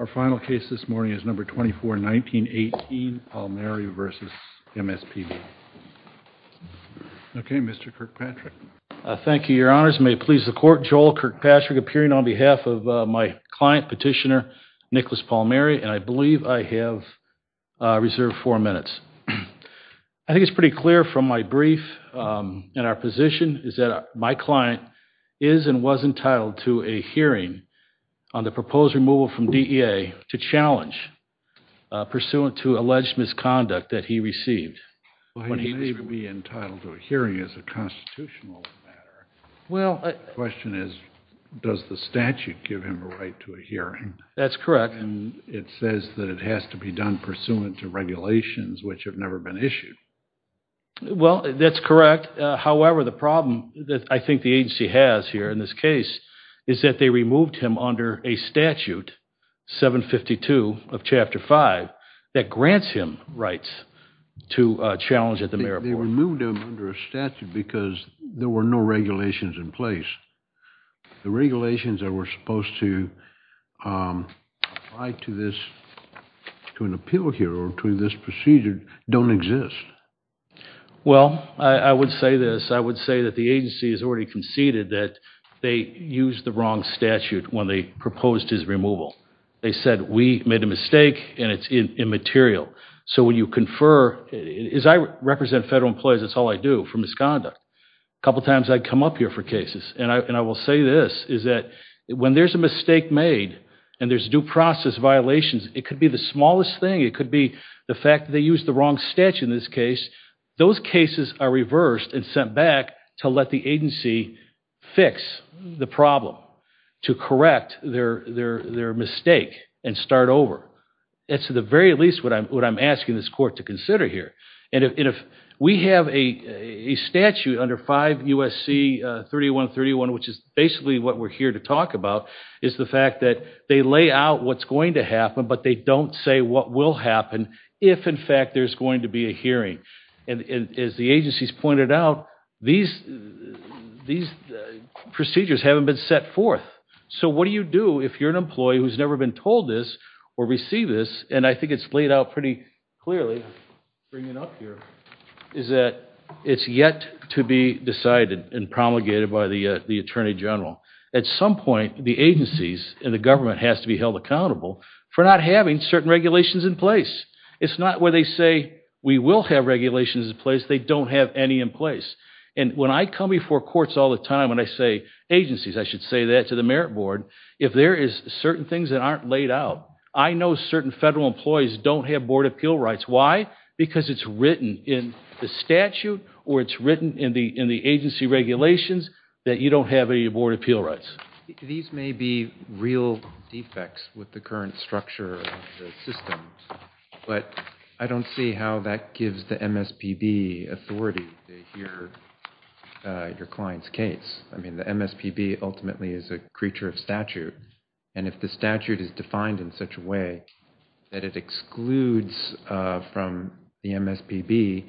Our final case this morning is No. 24, 1918, Palmieri v. MSPB. Okay, Mr. Kirkpatrick. Thank you, Your Honors. May it please the Court, Joel Kirkpatrick appearing on behalf of my client, Petitioner Nicholas Palmieri, and I believe I have reserved four minutes. I think it's pretty clear from my brief and our position is that my client is and was to challenge pursuant to alleged misconduct that he received when he was removed. Well, he may be entitled to a hearing as a constitutional matter. The question is, does the statute give him a right to a hearing? That's correct. And it says that it has to be done pursuant to regulations which have never been issued. Well, that's correct. However, the problem that I think the agency has here in this case is that they removed him under a statute, 752 of Chapter 5, that grants him rights to challenge at the mayor report. They removed him under a statute because there were no regulations in place. The regulations that were supposed to apply to an appeal here or to this procedure don't exist. Well, I would say this, I would say that the agency has already conceded that they used the wrong statute when they proposed his removal. They said, we made a mistake and it's immaterial. So when you confer, as I represent federal employees, that's all I do for misconduct. A couple of times I come up here for cases and I will say this, is that when there's a mistake made and there's due process violations, it could be the smallest thing. It could be the fact that they used the wrong statute in this case. Those cases are reversed and sent back to let the agency fix the problem, to correct their mistake and start over. That's at the very least what I'm asking this court to consider here. And if we have a statute under 5 U.S.C. 3131, which is basically what we're here to talk about, is the fact that they lay out what's going to happen, but they don't say what will happen, if in fact there's going to be a hearing. As the agencies pointed out, these procedures haven't been set forth. So what do you do if you're an employee who's never been told this or received this, and I think it's laid out pretty clearly, bringing it up here, is that it's yet to be decided and promulgated by the Attorney General. At some point, the agencies and the government has to be held accountable for not having certain regulations in place. It's not where they say, we will have regulations in place, they don't have any in place. And when I come before courts all the time and I say, agencies, I should say that to the merit board, if there is certain things that aren't laid out, I know certain federal employees don't have board appeal rights. Why? Because it's written in the statute or it's written in the agency regulations that you don't have any board appeal rights. These may be real defects with the current structure of the system, but I don't see how that gives the MSPB authority to hear your client's case. I mean, the MSPB ultimately is a creature of statute, and if the statute is defined in such a way that it excludes from the MSPB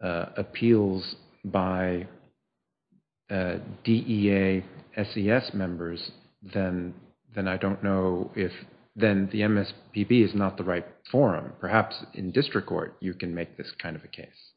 appeals by DEA SES members, then I don't know if then the MSPB is not the right forum. Perhaps in district court, you can make this kind of a case.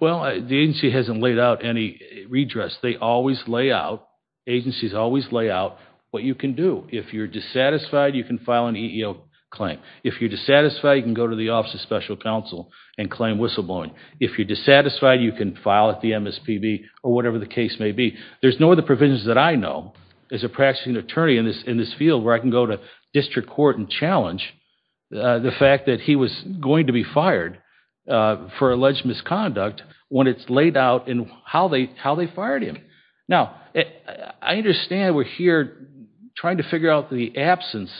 Well, the agency hasn't laid out any redress. They always lay out, agencies always lay out what you can do. If you're dissatisfied, you can file an EEO claim. If you're dissatisfied, you can go to the Office of Special Counsel and claim whistleblowing. If you're dissatisfied, you can file at the MSPB or whatever the case may be. There's no other provisions that I know as a practicing attorney in this field where I can go to district court and challenge the fact that he was going to be fired for alleged misconduct when it's laid out in how they fired him. Now, I understand we're here trying to figure out the absence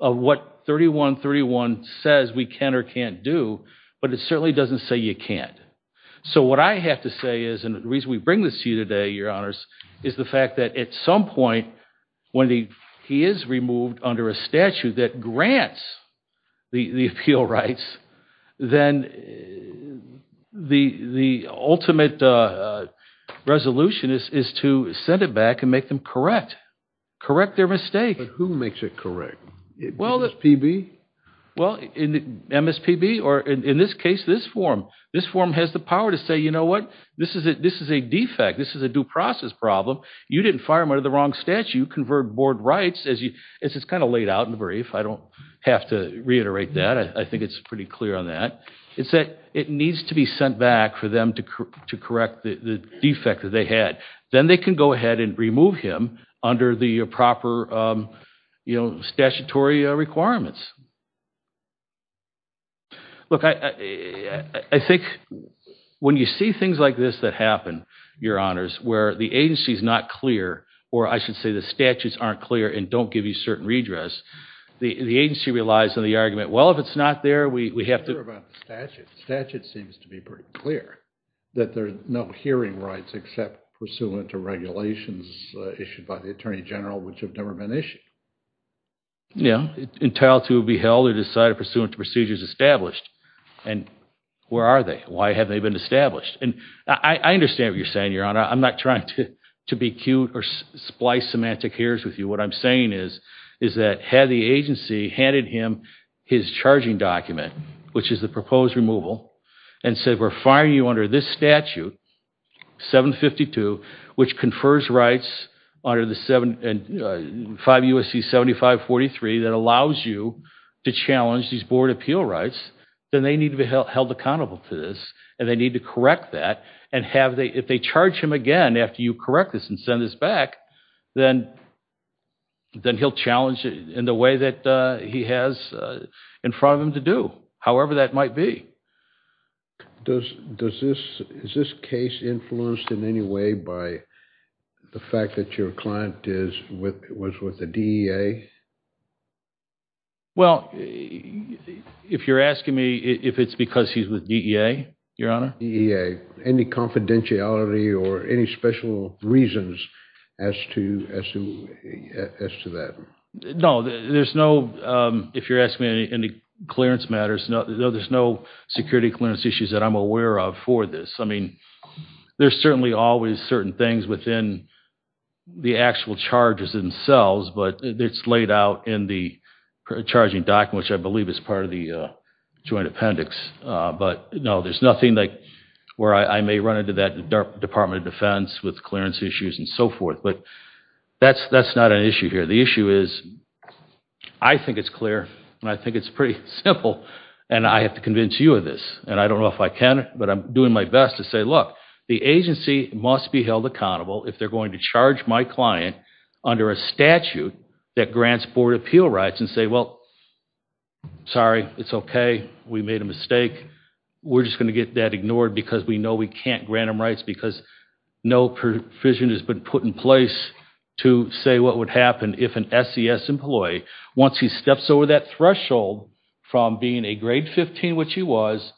of what 3131 says we can or can't do, but it certainly doesn't say you can't. So what I have to say is, and the reason we bring this to you today, Your Honors, is the fact that at some point when he is removed under a statute that grants the appeal rights, then the ultimate resolution is to send it back and make them correct. Correct their mistake. But who makes it correct? MSPB? Well, MSPB, or in this case, this forum. This forum has the power to say, you know what, this is a defect. This is a due process problem. You didn't fire him under the wrong statute, you converted board rights, as it's kind of laid out in the brief. I don't have to reiterate that. I think it's pretty clear on that. It's that it needs to be sent back for them to correct the defect that they had. Then they can go ahead and remove him under the proper, you know, statutory requirements. Look, I think when you see things like this that happen, Your Honors, where the agency is not clear, or I should say the statutes aren't clear and don't give you certain redress, the agency relies on the argument, well, if it's not there, we have to... I'm not sure about the statute. The statute seems to be pretty clear, that there's no hearing rights except pursuant to regulations issued by the Attorney General, which have never been issued. Yeah, entail to be held or decided pursuant to procedures established. And where are they? Why haven't they been established? And I understand what you're saying, Your Honor. I'm not trying to be cute or splice semantic here's with you. What I'm saying is, is that had the agency handed him his charging document, which is the proposed removal, and said, we're firing you under this statute, 752, which confers rights under the 5 U.S.C. 7543 that allows you to challenge these board appeal rights, then they need to be held accountable to this, and they need to correct that, and if they charge him again after you correct this and send this back, then he'll challenge it in the way that he has in front of him to do, however that might be. Does this, is this case influenced in any way by the fact that your client is with, was with the DEA? Well, if you're asking me if it's because he's with DEA, Your Honor? DEA. Okay. Any confidentiality or any special reasons as to, as to, as to that? No, there's no, if you're asking me any clearance matters, no, there's no security clearance issues that I'm aware of for this. I mean, there's certainly always certain things within the actual charges themselves, but it's laid out in the charging document, which I believe is part of the joint appendix, but no, there's nothing that, where I may run into that Department of Defense with clearance issues and so forth, but that's, that's not an issue here. The issue is, I think it's clear, and I think it's pretty simple, and I have to convince you of this, and I don't know if I can, but I'm doing my best to say, look, the agency must be held accountable if they're going to charge my client under a statute that grants board appeal rights and say, well, sorry, it's okay, we made a mistake, we're just going to get that ignored because we know we can't grant them rights because no provision has been put in place to say what would happen if an SES employee, once he steps over that threshold from being a grade 15, which he was,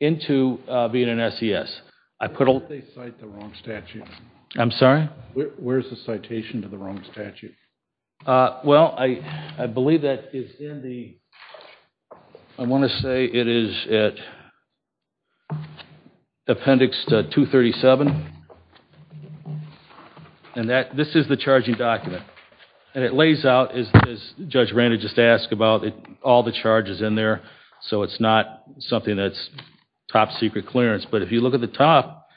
into being an SES. I put all... They cite the wrong statute. I'm sorry? Where's the citation to the wrong statute? Well, I believe that is in the, I want to say it is at Appendix 237, and this is the charging document, and it lays out, as Judge Randall just asked about, all the charges in there, so it's not something that's top secret clearance, but if you look at the top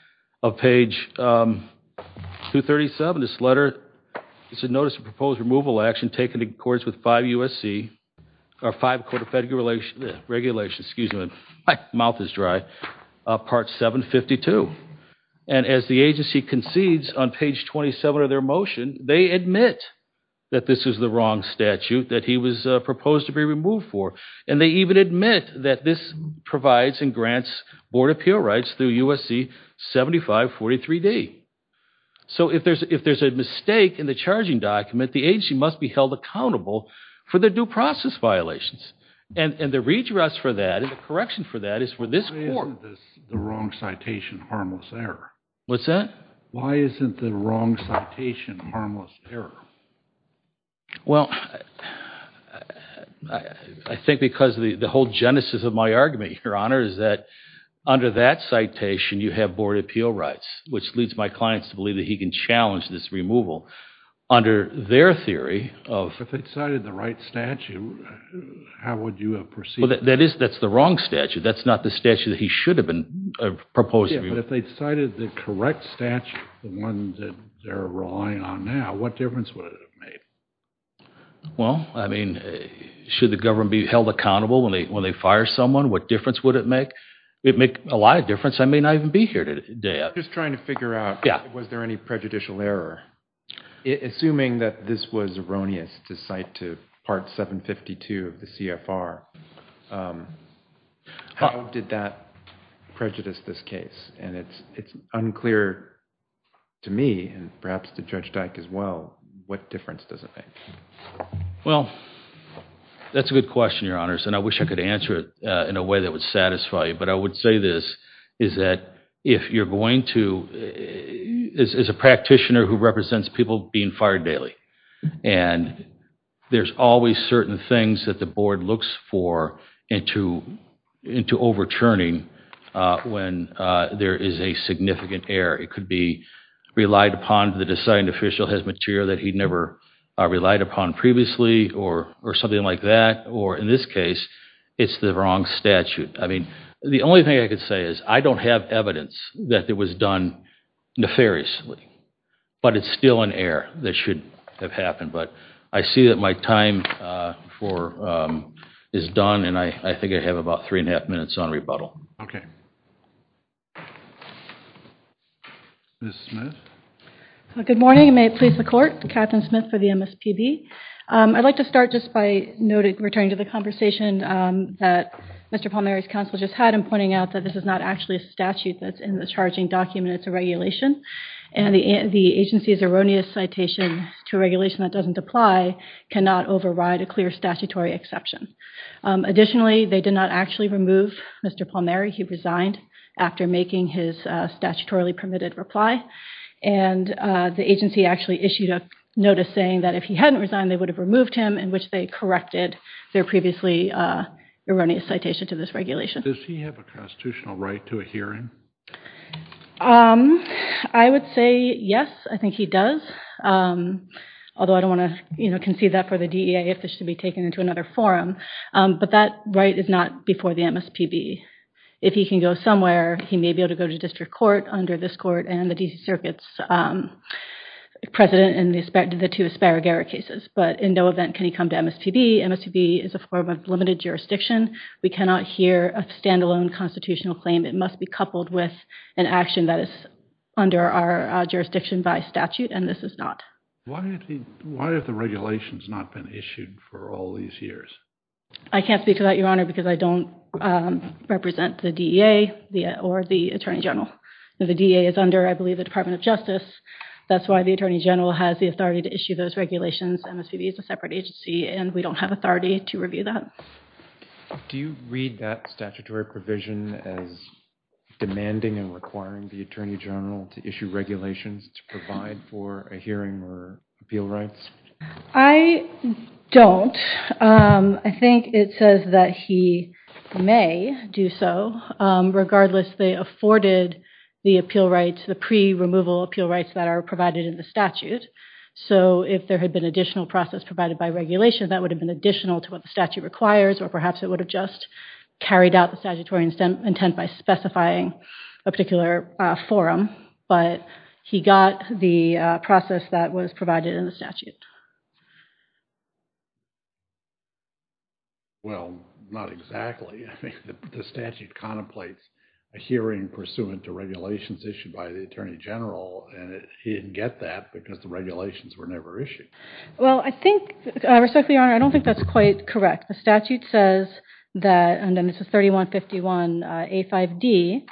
of page 237, this letter, it's a notice of proposed removal action taken in accordance with 5 USC, or 5 Code of Federal Regulations, excuse me, my mouth is dry, Part 752, and as the agency concedes on page 27 of their motion, they admit that this is the wrong statute that he was proposed to be removed for, and they even admit that this provides and grants board appeal rights through USC 7543D. So if there's a mistake in the charging document, the agency must be held accountable for their due process violations, and the redress for that, and the correction for that is for this court... Why isn't this the wrong citation harmless error? What's that? Why isn't the wrong citation harmless error? Well, I think because the whole genesis of my argument, Your Honor, is that under that citation, you have board appeal rights, which leads my clients to believe that he can challenge this removal under their theory of... If they cited the right statute, how would you have perceived it? Well, that is, that's the wrong statute, that's not the statute that he should have been proposed to be removed. Yeah, but if they cited the correct statute, the one that they're relying on now, what difference would it have made? Well, I mean, should the government be held accountable when they fire someone? What difference would it make? It'd make a lot of difference. I may not even be here today. I'm just trying to figure out, was there any prejudicial error? Assuming that this was erroneous to cite to Part 752 of the CFR, how did that prejudice this case? It's unclear to me, and perhaps to Judge Dyke as well, what difference does it make? Well, that's a good question, Your Honors, and I wish I could answer it in a way that would satisfy you, but I would say this, is that if you're going to, as a practitioner who represents people being fired daily, and there's always certain things that the board looks for into overturning when there is a significant error. It could be relied upon, the deciding official has material that he never relied upon previously, or something like that, or in this case, it's the wrong statute. I mean, the only thing I could say is, I don't have evidence that it was done nefariously, but it's still an error that should have happened. But I see that my time is done, and I think I have about three and a half minutes on rebuttal. Ms. Smith? Good morning, and may it please the Court, Katherine Smith for the MSPB. I'd like to start just by returning to the conversation that Mr. Palmieri's counsel just had in pointing out that this is not actually a statute that's in the charging document, it's a regulation. And the agency's erroneous citation to a regulation that doesn't apply cannot override a clear statutory exception. Additionally, they did not actually remove Mr. Palmieri, he resigned after making his statutorily permitted reply, and the agency actually issued a notice saying that if he hadn't resigned, they would have removed him, in which they corrected their previously erroneous citation to this regulation. Does he have a constitutional right to a hearing? I would say yes, I think he does, although I don't want to concede that for the DEA if this should be taken into another forum. But that right is not before the MSPB. If he can go somewhere, he may be able to go to district court, under this court, and the D.C. Circuit's president in the two Aspara Garrett cases. But in no event can he come to MSPB, MSPB is a form of limited jurisdiction, we cannot hear a standalone constitutional claim, it must be coupled with an action that is under our jurisdiction by statute, and this is not. Why have the regulations not been issued for all these years? I can't speak to that, Your Honor, because I don't represent the DEA or the Attorney General. The DEA is under, I believe, the Department of Justice, that's why the Attorney General has the authority to issue those regulations, MSPB is a separate agency, and we don't have authority to review that. Do you read that statutory provision as demanding and requiring the Attorney General to issue regulations to provide for a hearing or appeal rights? I don't. I think it says that he may do so, regardless they afforded the appeal rights, the pre-removal appeal rights that are provided in the statute, so if there had been additional process provided by regulation, that would have been additional to what the statute requires, or perhaps it would have just carried out the statutory intent by specifying a particular forum, but he got the process that was provided in the statute. Well, not exactly, the statute contemplates a hearing pursuant to regulations issued by the Attorney General, and he didn't get that because the regulations were never issued. Well, I think, respectfully, Your Honor, I don't think that's quite correct. The statute says that, and then this is 3151A5D,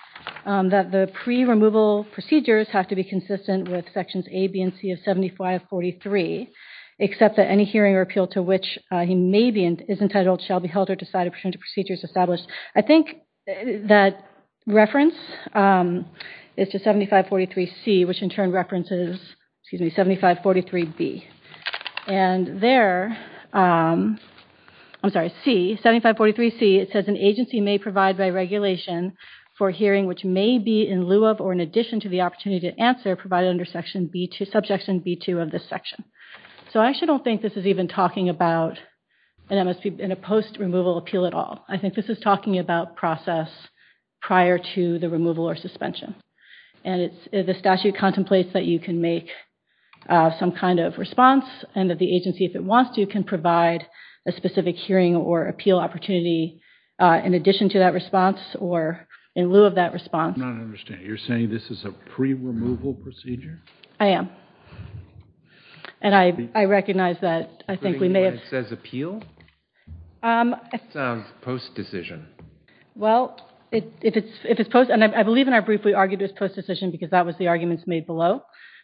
that the pre-removal procedures have to be consistent with sections A, B, and C of 7543, except that any hearing or appeal to which he may be, is entitled, shall be held or decided pursuant to procedures established. I think that reference is to 7543C, which in turn references 7543B, and there, I'm sorry, C, 7543C, it says an agency may provide by regulation for a hearing which may be in lieu of or in addition to the opportunity to answer provided under subsection B2 of this section. So I actually don't think this is even talking about an MSP, a post-removal appeal at all. I think this is talking about process prior to the removal or suspension, and the statute contemplates that you can make some kind of response, and that the agency, if it wants to, can provide a specific hearing or appeal opportunity in addition to that response or in lieu of that response. I do not understand. You're saying this is a pre-removal procedure? I am. And I recognize that I think we may have- Post-decision. Well, if it's post, and I believe in our brief we argued it was post-decision because that was the arguments made below,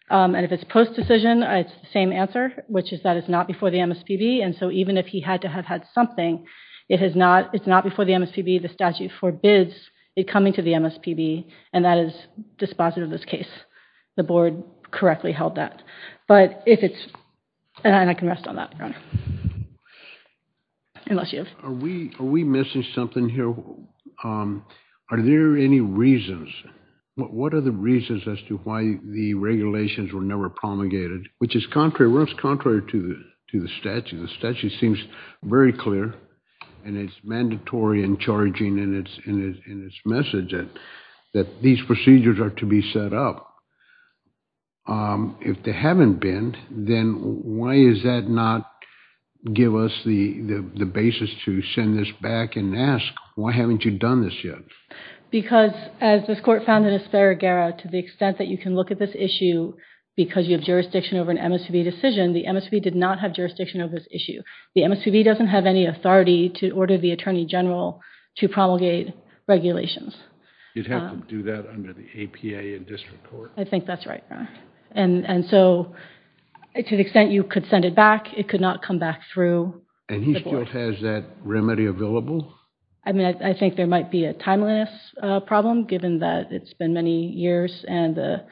and if it's post-decision, it's the same answer, which is that it's not before the MSPB, and so even if he had to have had something, it's not before the MSPB. The statute forbids it coming to the MSPB, and that is dispositive of this case. The board correctly held that. But if it's, and I can rest on that, Your Honor, unless you have- Are we missing something here? Are there any reasons? What are the reasons as to why the regulations were never promulgated? Which is contrary, well, it's contrary to the statute. The statute seems very clear, and it's mandatory and charging in its message that these procedures are to be set up. If they haven't been, then why does that not give us the basis to send this back and ask, why haven't you done this yet? Because as this Court found in Aspera-Guerra, to the extent that you can look at this issue because you have jurisdiction over an MSPB decision, the MSPB did not have jurisdiction over this issue. The MSPB doesn't have any authority to order the Attorney General to promulgate regulations. You'd have to do that under the APA in district court? I think that's right, Your Honor. And so, to the extent you could send it back, it could not come back through the board. And he still has that remedy available? I mean, I think there might be a timeliness problem, given that it's been many years and the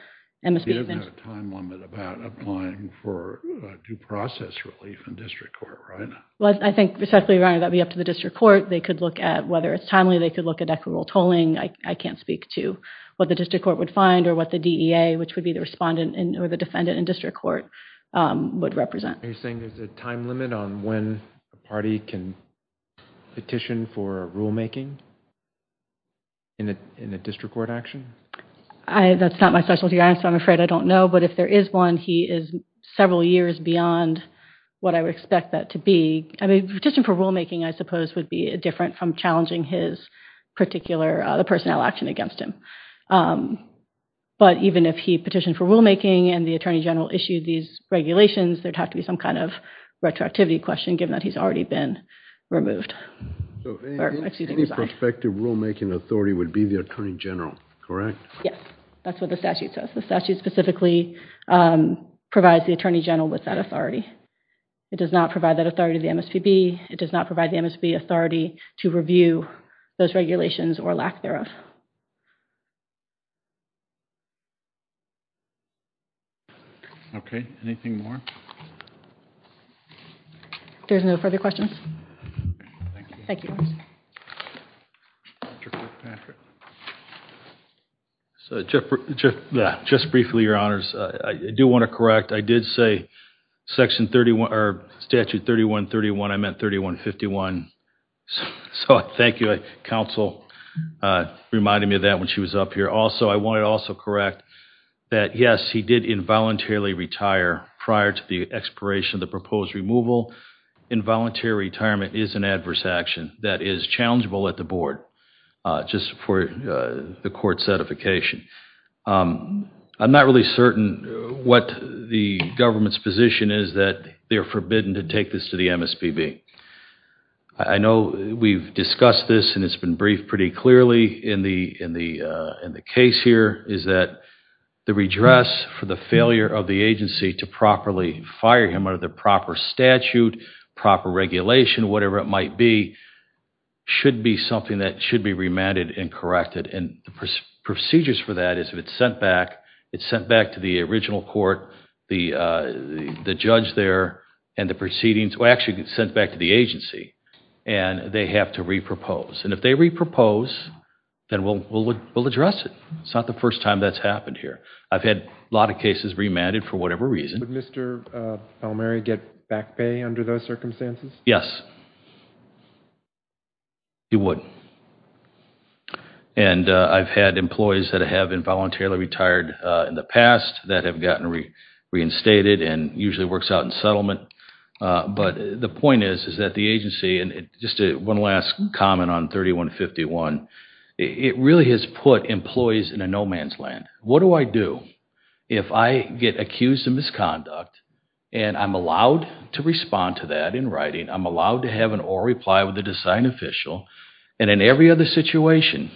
MSPB... He doesn't have a time limit about applying for due process relief in district court, right? Well, I think specifically, Your Honor, that would be up to the district court. They could look at, whether it's timely, they could look at equitable tolling. I can't speak to what the district court would find or what the DEA, which would be the respondent or the defendant in district court, would represent. Are you saying there's a time limit on when a party can petition for rulemaking in a district court action? That's not my specialty, Your Honor, so I'm afraid I don't know. But if there is one, he is several years beyond what I would expect that to be. I mean, petition for rulemaking, I suppose, would be different from challenging his particular... the personnel action against him. But even if he petitioned for rulemaking and the Attorney General issued these regulations, there would have to be some kind of retroactivity question, given that he's already been removed... So, any prospective rulemaking authority would be the Attorney General, correct? Yes. That's what the statute says. The statute specifically provides the Attorney General with that authority. It does not provide that authority to the MSPB. It does not provide the MSPB authority to review those regulations or lack thereof. Anything more? There's no further questions. Thank you. Just briefly, Your Honors, I do want to correct. I did say Section 31... or Statute 3131, I meant 3151. So, thank you. Counsel reminded me of that when she was up here. Also, I want to also correct that, yes, he did involuntarily retire prior to the expiration of the proposed removal. Involuntary retirement is an adverse action that is challengeable at the Board, just for the Court's certification. I'm not really certain what the government's position is that they're forbidden to take this to the MSPB. I know we've discussed this and it's been briefed pretty clearly in the case here, is that the redress for the failure of the agency to properly fire him under the proper statute, proper regulation, whatever it might be, should be something that should be remanded and corrected. Procedures for that is if it's sent back, it's sent back to the original court, the judge there, and the proceedings... actually, it's sent back to the agency and they have to re-propose. If they re-propose, then we'll address it. It's not the first time that's happened here. I've had a lot of cases remanded for whatever reason. Would Mr. Palmieri get back pay under those circumstances? Yes, he would. I've had employees that have been voluntarily retired in the past that have gotten reinstated and usually works out in settlement. The point is that the agency... just one last comment on 3151. It really has put employees in a no-man's land. What do I do if I get accused of misconduct and I'm allowed to respond to that in writing, I'm allowed to have an oral reply with a design official, and in every other situation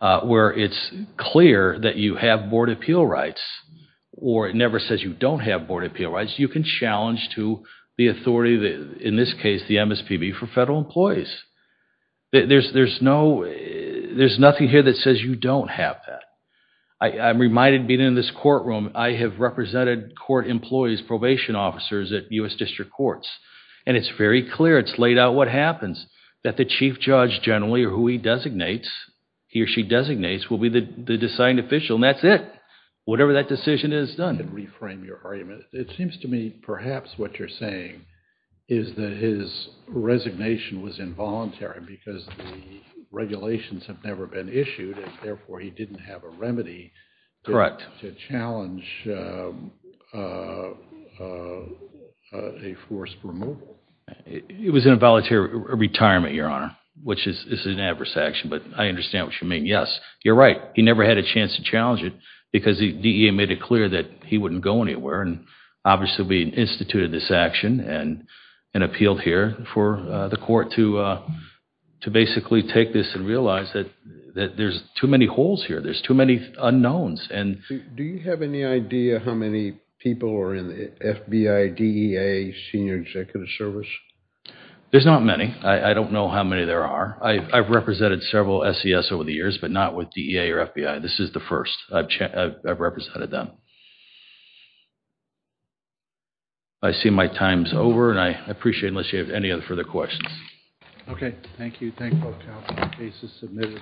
where it's clear that you have board appeal rights or it never says you don't have board appeal rights, you can challenge to the authority, in this case, the MSPB for federal employees. There's nothing here that says you don't have that. I'm reminded being in this courtroom, I have represented court employees, probation officers at U.S. District Courts, and it's very clear, it's laid out what happens. That the chief judge generally, or who he designates, he or she designates, will be the design official and that's it. Whatever that decision is, it's done. I can reframe your argument. It seems to me perhaps what you're saying is that his resignation was involuntary because the regulations have never been issued and therefore he didn't have a remedy... Correct.... to challenge a forced removal. It was involuntary retirement, your honor, which is an adverse action, but I understand what you mean. Yes, you're right. He never had a chance to challenge it because DEA made it clear that he wouldn't go anywhere and obviously we instituted this action and appealed here for the court to basically take this and realize that there's too many holes here. There's too many unknowns. Do you have any idea how many people are in the FBI, DEA, Senior Executive Service? There's not many. I don't know how many there are. I've represented several SES over the years, but not with DEA or FBI. This is the first I've represented them. I see my time is over and I appreciate it unless you have any further questions. Okay. Thank you. Thank you all. The case is submitted.